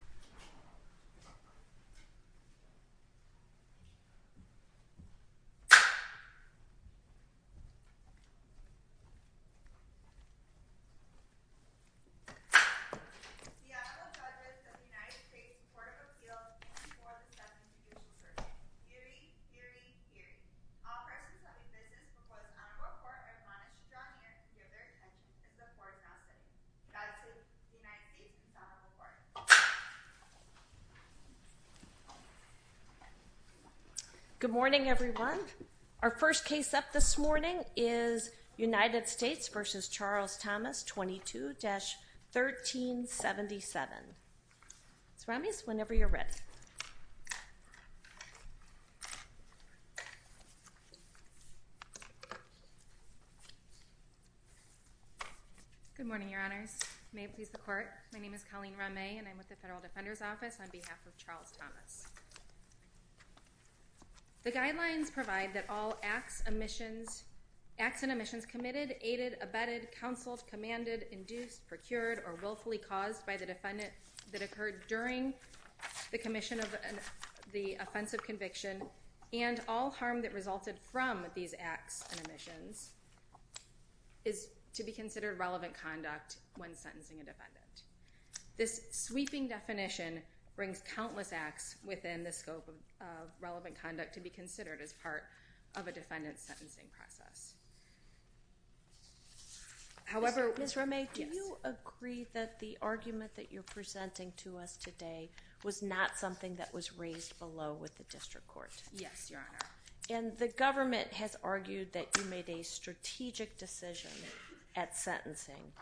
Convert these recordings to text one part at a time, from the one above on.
The Honorable Judges of the United States Court of Appeals in the 4th and 7th Judicial Surveys. Eerie, eerie, eerie. All persons having business before the Honorable Court are admonished to draw near to give their attention in the foreground setting. God save the United States and the Honorable Court. Good morning, everyone. Our first case up this morning is United States v. Charles Thomas 22-1377. Surround me whenever you're ready. Good morning, Your Honors. May it please the Court. My name is Colleen Ramay and I'm with the Federal Defender's Office on behalf of Charles Thomas. The guidelines provide that all acts and omissions committed, aided, abetted, counseled, commanded, induced, procured, or willfully caused by the defendant that occurred during the commission of the offensive conviction, and all harm that resulted from these acts and omissions, is to be considered relevant conduct when sentencing a defendant. This sweeping definition brings countless acts within the scope of relevant conduct to be considered as part of a defendant's sentencing process. Ms. Ramay, do you agree that the argument that you're presenting to us today was not something that was raised below with the district court? Yes, Your Honor. And the government has argued that you made a strategic decision at sentencing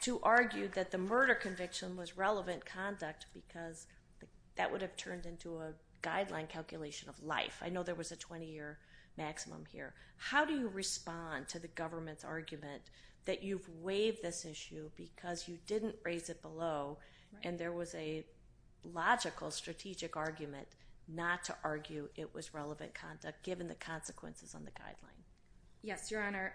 to argue that the murder conviction was relevant conduct because that would have turned into a guideline calculation of life. I know there was a 20-year maximum here. How do you respond to the government's argument that you've waived this issue because you didn't raise it below and there was a logical strategic argument not to argue it was relevant conduct given the consequences on the guideline? Yes, Your Honor.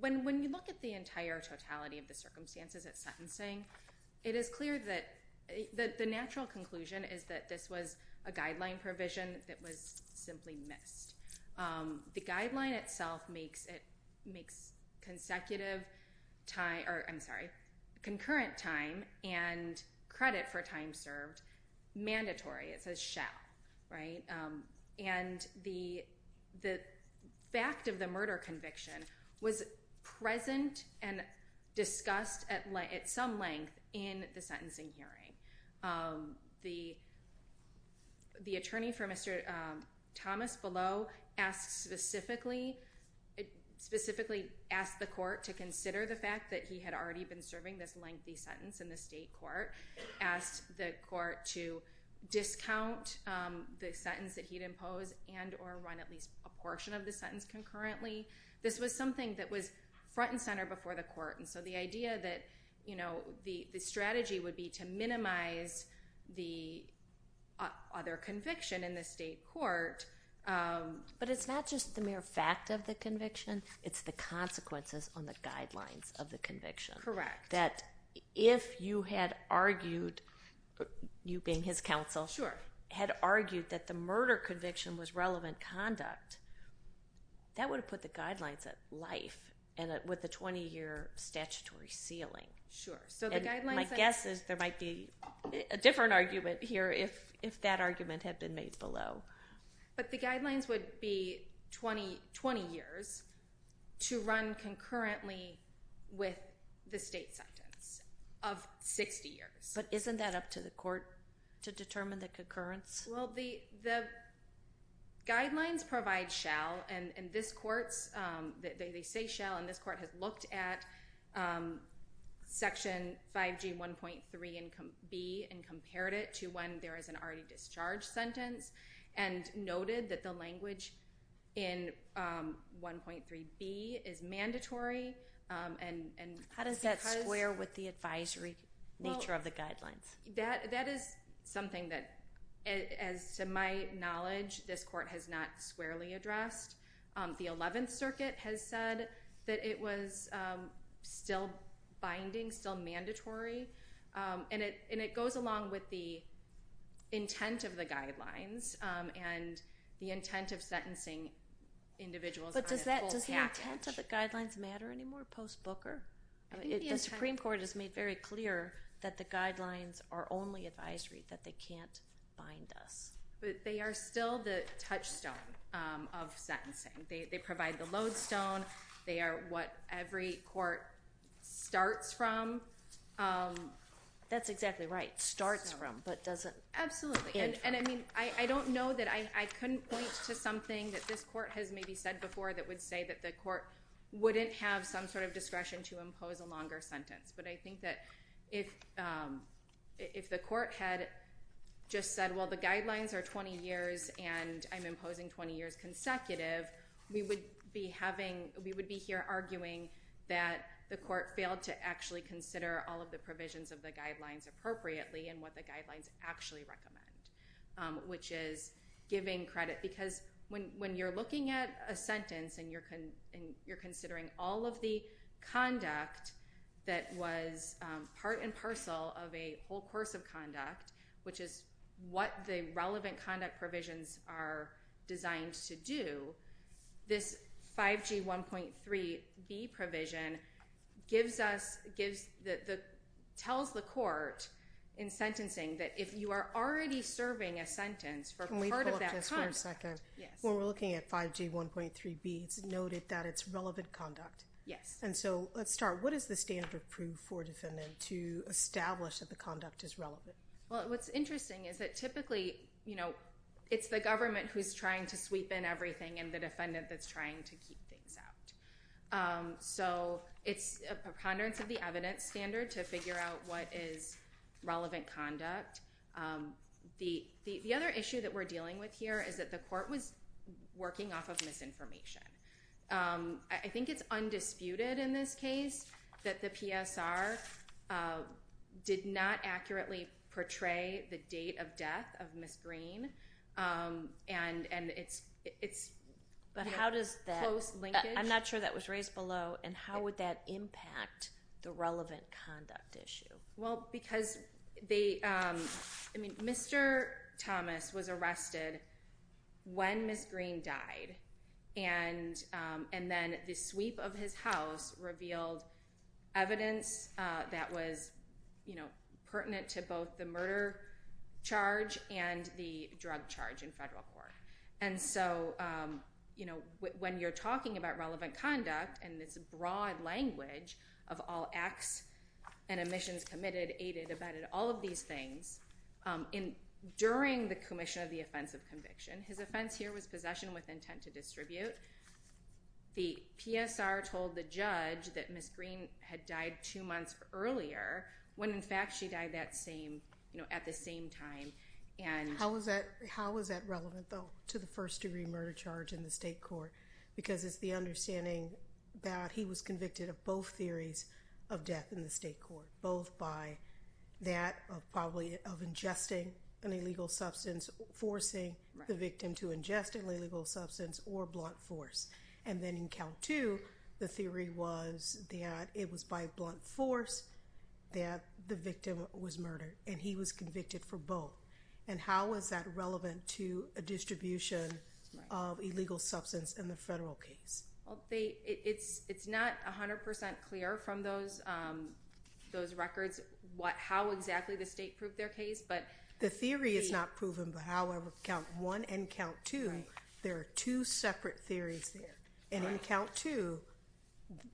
When you look at the entire totality of the circumstances at sentencing, it is clear that the natural conclusion is that this was a guideline provision that was simply missed. The guideline itself makes concurrent time and credit for time served mandatory. It says shall. And the fact of the murder conviction was present and discussed at some length in the The attorney for Mr. Thomas below specifically asked the court to consider the fact that he had already been serving this lengthy sentence in the state court, asked the court to discount the sentence that he'd impose and or run at least a portion of the sentence concurrently. This was something that was front and center before the court. The idea that the strategy would be to minimize the other conviction in the state court. But it's not just the mere fact of the conviction. It's the consequences on the guidelines of the conviction. Correct. That if you had argued, you being his counsel, had argued that the murder conviction was My guess is there might be a different argument here if that argument had been made below. But the guidelines would be 20 years to run concurrently with the state sentence of 60 years. But isn't that up to the court to determine the concurrence? Well, the the guidelines provide shall. And this court's they say shall. And this court has looked at Section 5G 1.3 and B and compared it to when there is an already discharged sentence and noted that the language in 1.3 B is mandatory. And how does that square with the advisory nature of the guidelines? That is something that, as to my knowledge, this court has not squarely addressed. The 11th Circuit has said that it was still binding, still mandatory. And it goes along with the intent of the guidelines and the intent of sentencing individuals. But does the intent of the guidelines matter anymore post-Booker? The Supreme Court has made very clear that the guidelines are only advisory, that they can't bind us. But they are still the touchstone of sentencing. They provide the lodestone. They are what every court starts from. That's exactly right. Starts from, but doesn't enter. Absolutely. And I mean, I don't know that I couldn't point to something that this court has maybe said before that would say that the court wouldn't have some sort of discretion to impose a longer sentence. But I think that if the court had just said, well, the guidelines are 20 years and I'm imposing 20 years consecutive, we would be having, we would be here arguing that the court failed to actually consider all of the provisions of the guidelines appropriately and what the guidelines actually recommend, which is giving credit. Because when you're looking at a sentence and you're considering all of the conduct that was part and parcel of a whole course of conduct, which is what the relevant conduct provisions are designed to do, this 5G 1.3B provision gives us, tells the court in sentencing that if you are already serving a sentence for part of that second, when we're looking at 5G 1.3B, it's noted that it's relevant conduct. Yes. And so let's start. What is the standard proof for a defendant to establish that the conduct is relevant? Well, what's interesting is that typically it's the government who's trying to sweep in everything and the defendant that's trying to keep things out. So it's a preponderance of the evidence standard to figure out what is relevant conduct. The other issue that we're dealing with here is that the court was working off of misinformation. I think it's undisputed in this case that the PSR did not accurately portray the date of death of Ms. Green, and it's a close linkage. But how does that, I'm not sure that was raised below, and how would that impact the relevant conduct issue? Well, because they, I mean, Mr. Thomas was arrested when Ms. Green died, and then the sweep of his house revealed evidence that was pertinent to both the murder charge and the drug charge in federal court. And so when you're talking about relevant conduct and this broad language of all acts and omissions committed, aided, abetted, all of these things, during the commission of the offense of conviction, his offense here was possession with intent to distribute. The PSR told the judge that Ms. Green had died two months earlier when, in fact, she died at the same time. How is that relevant, though, to the first-degree murder charge in the state court? Because it's the understanding that he was convicted of both theories of death in the state court, both by that of probably of ingesting an illegal substance, forcing the victim to ingest an illegal substance, or blunt force. And then in count two, the theory was that it was by blunt force that the victim was murdered, and he was convicted for both. And how is that relevant to a distribution of illegal substance in the federal case? Well, it's not 100% clear from those records how exactly the state proved their case. The theory is not proven, but however, count one and count two, there are two separate theories there. And in count two,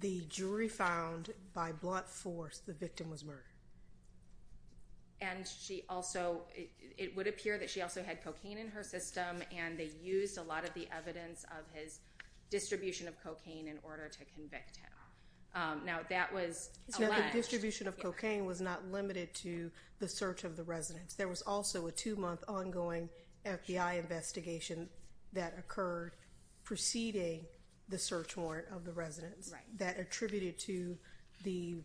the jury found by blunt force the victim was murdered. And she also, it would appear that she also had cocaine in her system, and they used a lot of the evidence of his distribution of cocaine in order to convict him. Now, that was alleged. The distribution of cocaine was not limited to the search of the residence. There was also a two-month ongoing FBI investigation that occurred preceding the search warrant of the residence. Right. That attributed to the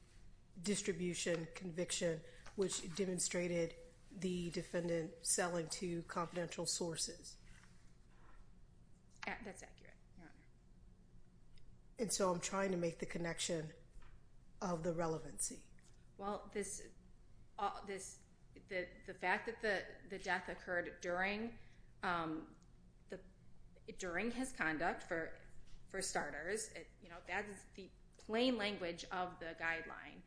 distribution conviction, which demonstrated the defendant selling to confidential sources. That's accurate, Your Honor. And so I'm trying to make the connection of the relevancy. Well, the fact that the death occurred during his conduct, for starters, that is the plain language of the guideline,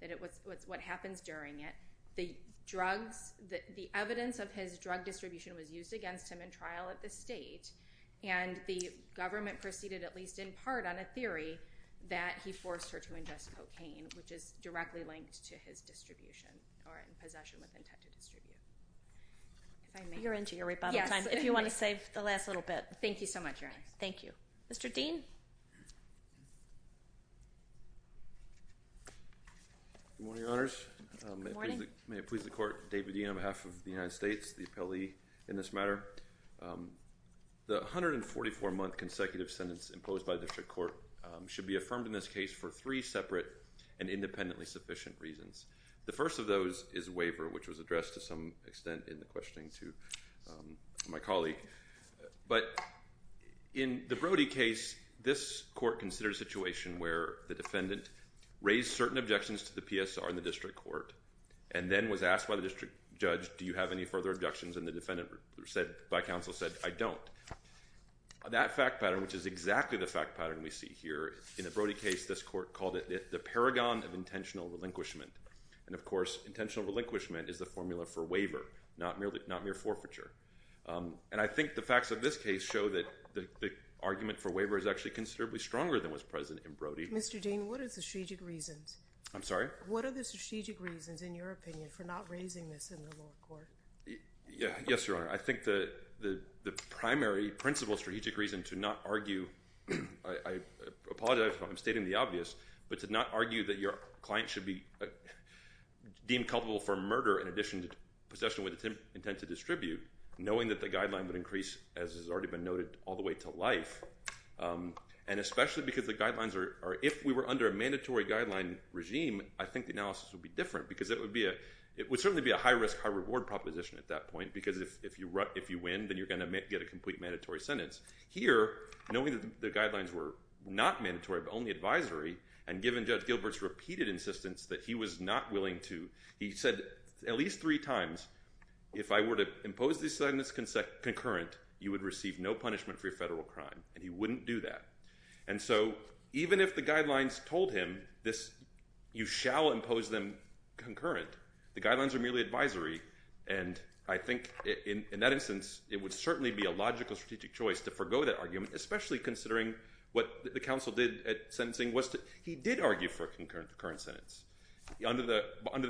that it was what happens during it. The evidence of his drug distribution was used against him in trial at the state, and the government proceeded at least in part on a theory that he forced her to ingest cocaine, which is directly linked to his distribution or in possession with intent to distribute. You're into your rebuttal time. Yes. If you want to save the last little bit. Thank you so much, Your Honor. Thank you. Mr. Dean? Good morning, Your Honors. Good morning. May it please the Court, David Dean on behalf of the United States, the appellee in this matter. The 144-month consecutive sentence imposed by the district court should be affirmed in this case for three separate and independently sufficient reasons. The first of those is waiver, which was addressed to some extent in the questioning to my colleague. But in the Brody case, this court considered a situation where the defendant raised certain objections to the PSR in the district court and then was asked by the district judge, do you have any further objections? And the defendant by counsel said, I don't. That fact pattern, which is exactly the fact pattern we see here, in the Brody case, this court called it the paragon of intentional relinquishment. And, of course, intentional relinquishment is the formula for waiver, not mere forfeiture. And I think the facts of this case show that the argument for waiver is actually considerably stronger than was present in Brody. Mr. Dean, what are the strategic reasons? I'm sorry? Yes, Your Honor. I think the primary principle strategic reason to not argue, I apologize if I'm stating the obvious, but to not argue that your client should be deemed culpable for murder in addition to possession with intent to distribute, knowing that the guideline would increase, as has already been noted, all the way to life. And especially because the guidelines are, if we were under a mandatory guideline regime, I think the analysis would be different because it would certainly be a high-risk, high-reward proposition at that point because if you win, then you're going to get a complete mandatory sentence. Here, knowing that the guidelines were not mandatory but only advisory, and given Judge Gilbert's repeated insistence that he was not willing to, he said at least three times, if I were to impose this sentence concurrent, you would receive no punishment for your federal crime, and he wouldn't do that. And so even if the guidelines told him you shall impose them concurrent, the guidelines are merely advisory, and I think in that instance it would certainly be a logical strategic choice to forego that argument, especially considering what the counsel did at sentencing was he did argue for a concurrent sentence. Under the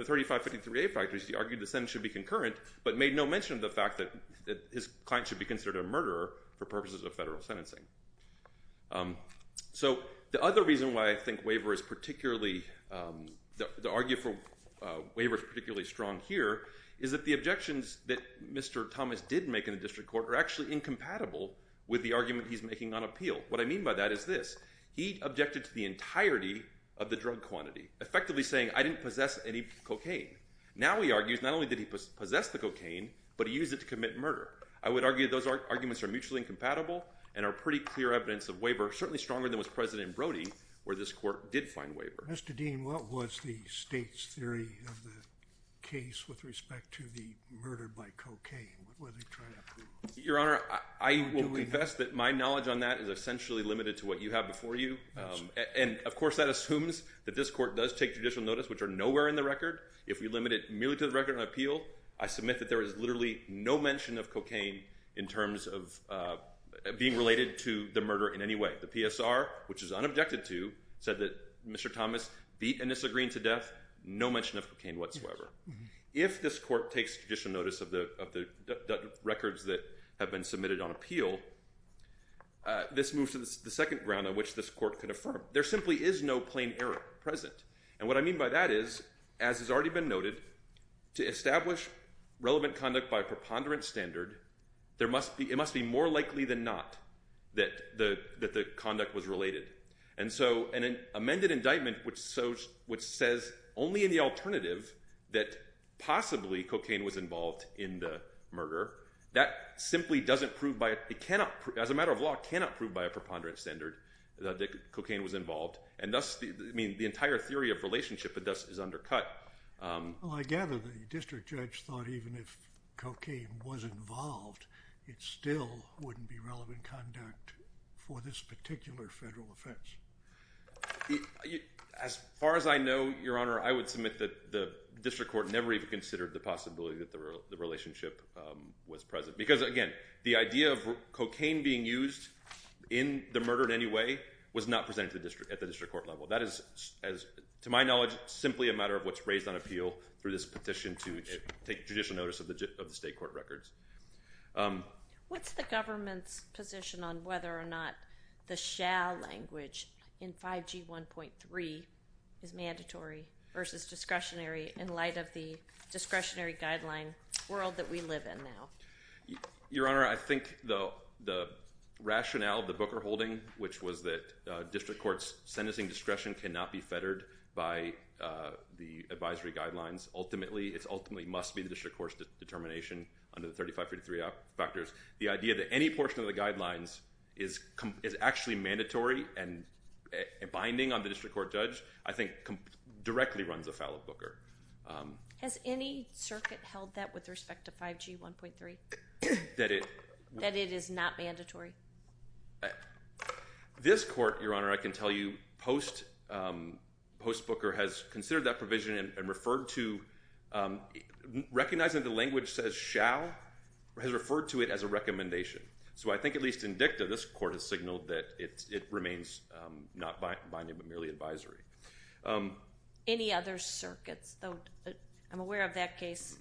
3553A factors, he argued the sentence should be concurrent but made no mention of the fact that his client should be considered a murderer for purposes of federal sentencing. So the other reason why I think the argument for waiver is particularly strong here is that the objections that Mr. Thomas did make in the district court are actually incompatible with the argument he's making on appeal. What I mean by that is this. He objected to the entirety of the drug quantity, effectively saying I didn't possess any cocaine. Now he argues not only did he possess the cocaine, but he used it to commit murder. I would argue those arguments are mutually incompatible and are pretty clear evidence of waiver, certainly stronger than was present in Brody where this court did find waiver. Mr. Dean, what was the state's theory of the case with respect to the murder by cocaine? Your Honor, I will confess that my knowledge on that is essentially limited to what you have before you, and of course that assumes that this court does take judicial notice, which are nowhere in the record. If we limit it merely to the record on appeal, I submit that there is literally no mention of cocaine in terms of being related to the murder in any way. The PSR, which is unobjected to, said that Mr. Thomas beat and disagreed to death. No mention of cocaine whatsoever. If this court takes judicial notice of the records that have been submitted on appeal, this moves to the second ground on which this court can affirm. There simply is no plain error present. And what I mean by that is, as has already been noted, to establish relevant conduct by a preponderant standard, it must be more likely than not that the conduct was related. And so an amended indictment which says only in the alternative that possibly cocaine was involved in the murder, that simply doesn't prove by a preponderant standard that cocaine was involved. And thus, I mean, the entire theory of relationship is undercut. Well, I gather the district judge thought even if cocaine was involved, it still wouldn't be relevant conduct for this particular federal offense. As far as I know, Your Honor, I would submit that the district court never even considered the possibility that the relationship was present. Because, again, the idea of cocaine being used in the murder in any way was not presented at the district court level. That is, to my knowledge, simply a matter of what's raised on appeal through this petition to take judicial notice of the state court records. What's the government's position on whether or not the shall language in 5G 1.3 is mandatory versus discretionary in light of the discretionary guideline world that we live in now? Your Honor, I think the rationale of the Booker holding, which was that district court's sentencing discretion cannot be fettered by the advisory guidelines ultimately, it ultimately must be the district court's determination under the 3553 factors. The idea that any portion of the guidelines is actually mandatory and binding on the district court judge, I think directly runs afoul of Booker. Has any circuit held that with respect to 5G 1.3? That it is not mandatory? This court, Your Honor, I can tell you post-Booker has considered that provision and referred to recognizing the language says shall has referred to it as a recommendation. So I think at least in dicta, this court has signaled that it remains not binding but merely advisory. Any other circuits? I'm aware of that case.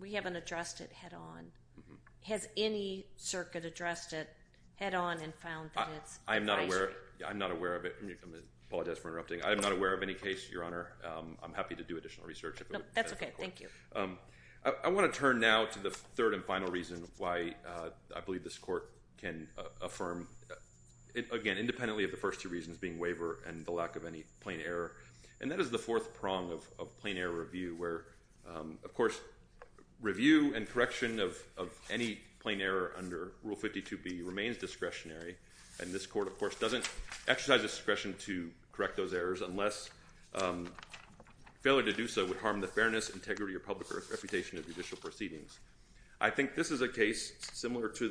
We haven't addressed it head on. Has any circuit addressed it head on and found that it's advisory? I'm not aware of it. I apologize for interrupting. I am not aware of any case, Your Honor. I'm happy to do additional research. That's okay. Thank you. I want to turn now to the third and final reason why I believe this court can affirm, again, independently of the first two reasons being waiver and the lack of any plain error, and that is the fourth prong of plain error review where, of course, review and correction of any plain error under Rule 52B remains discretionary, and this court, of course, doesn't exercise discretion to correct those errors unless failure to do so would harm the fairness, integrity, or public reputation of judicial proceedings. I think this is a case similar to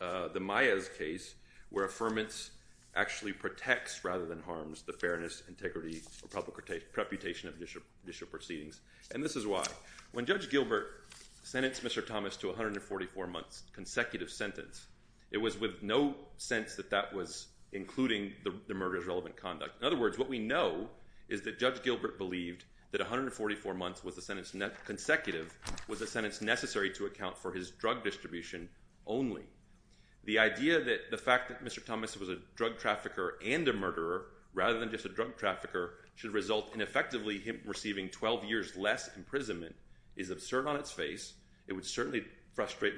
the Maez case where affirmance actually protects rather than harms the fairness, integrity, or public reputation of judicial proceedings, and this is why. When Judge Gilbert sentenced Mr. Thomas to 144 months consecutive sentence, it was with no sense that that was including the murder's relevant conduct. In other words, what we know is that Judge Gilbert believed that 144 months was a sentence consecutive was a sentence necessary to account for his drug distribution only. The idea that the fact that Mr. Thomas was a drug trafficker and a murderer rather than just a drug trafficker should result in effectively him receiving 12 years less imprisonment is absurd on its face. It would certainly frustrate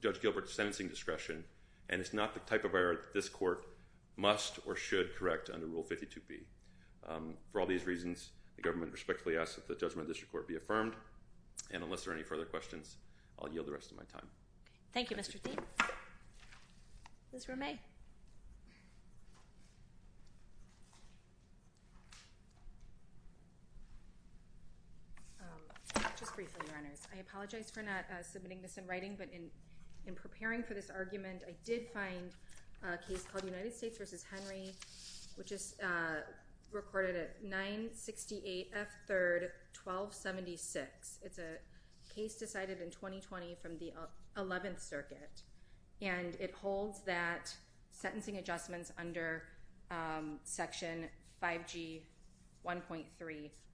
Judge Gilbert's sentencing discretion, and it's not the type of error that this court must or should correct under Rule 52B. For all these reasons, the government respectfully asks that the judgment of this court be affirmed, and unless there are any further questions, I'll yield the rest of my time. Thank you, Mr. Thiem. Ms. Romay. Just briefly, Your Honors. I apologize for not submitting this in writing, but in preparing for this argument, I did find a case called United States v. Henry, which is recorded at 968 F. 3rd, 1276. It's a case decided in 2020 from the 11th Circuit, and it holds that sentencing adjustments under Section 5G 1.3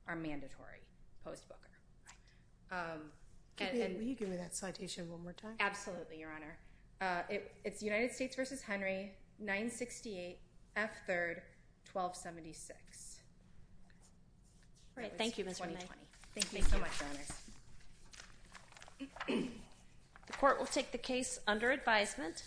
are mandatory post-Booker. Could you give me that citation one more time? Absolutely, Your Honor. It's United States v. Henry, 968 F. 3rd, 1276. Great. Thank you, Ms. Romay. Thank you so much, Your Honors. The court will take the case under advisement.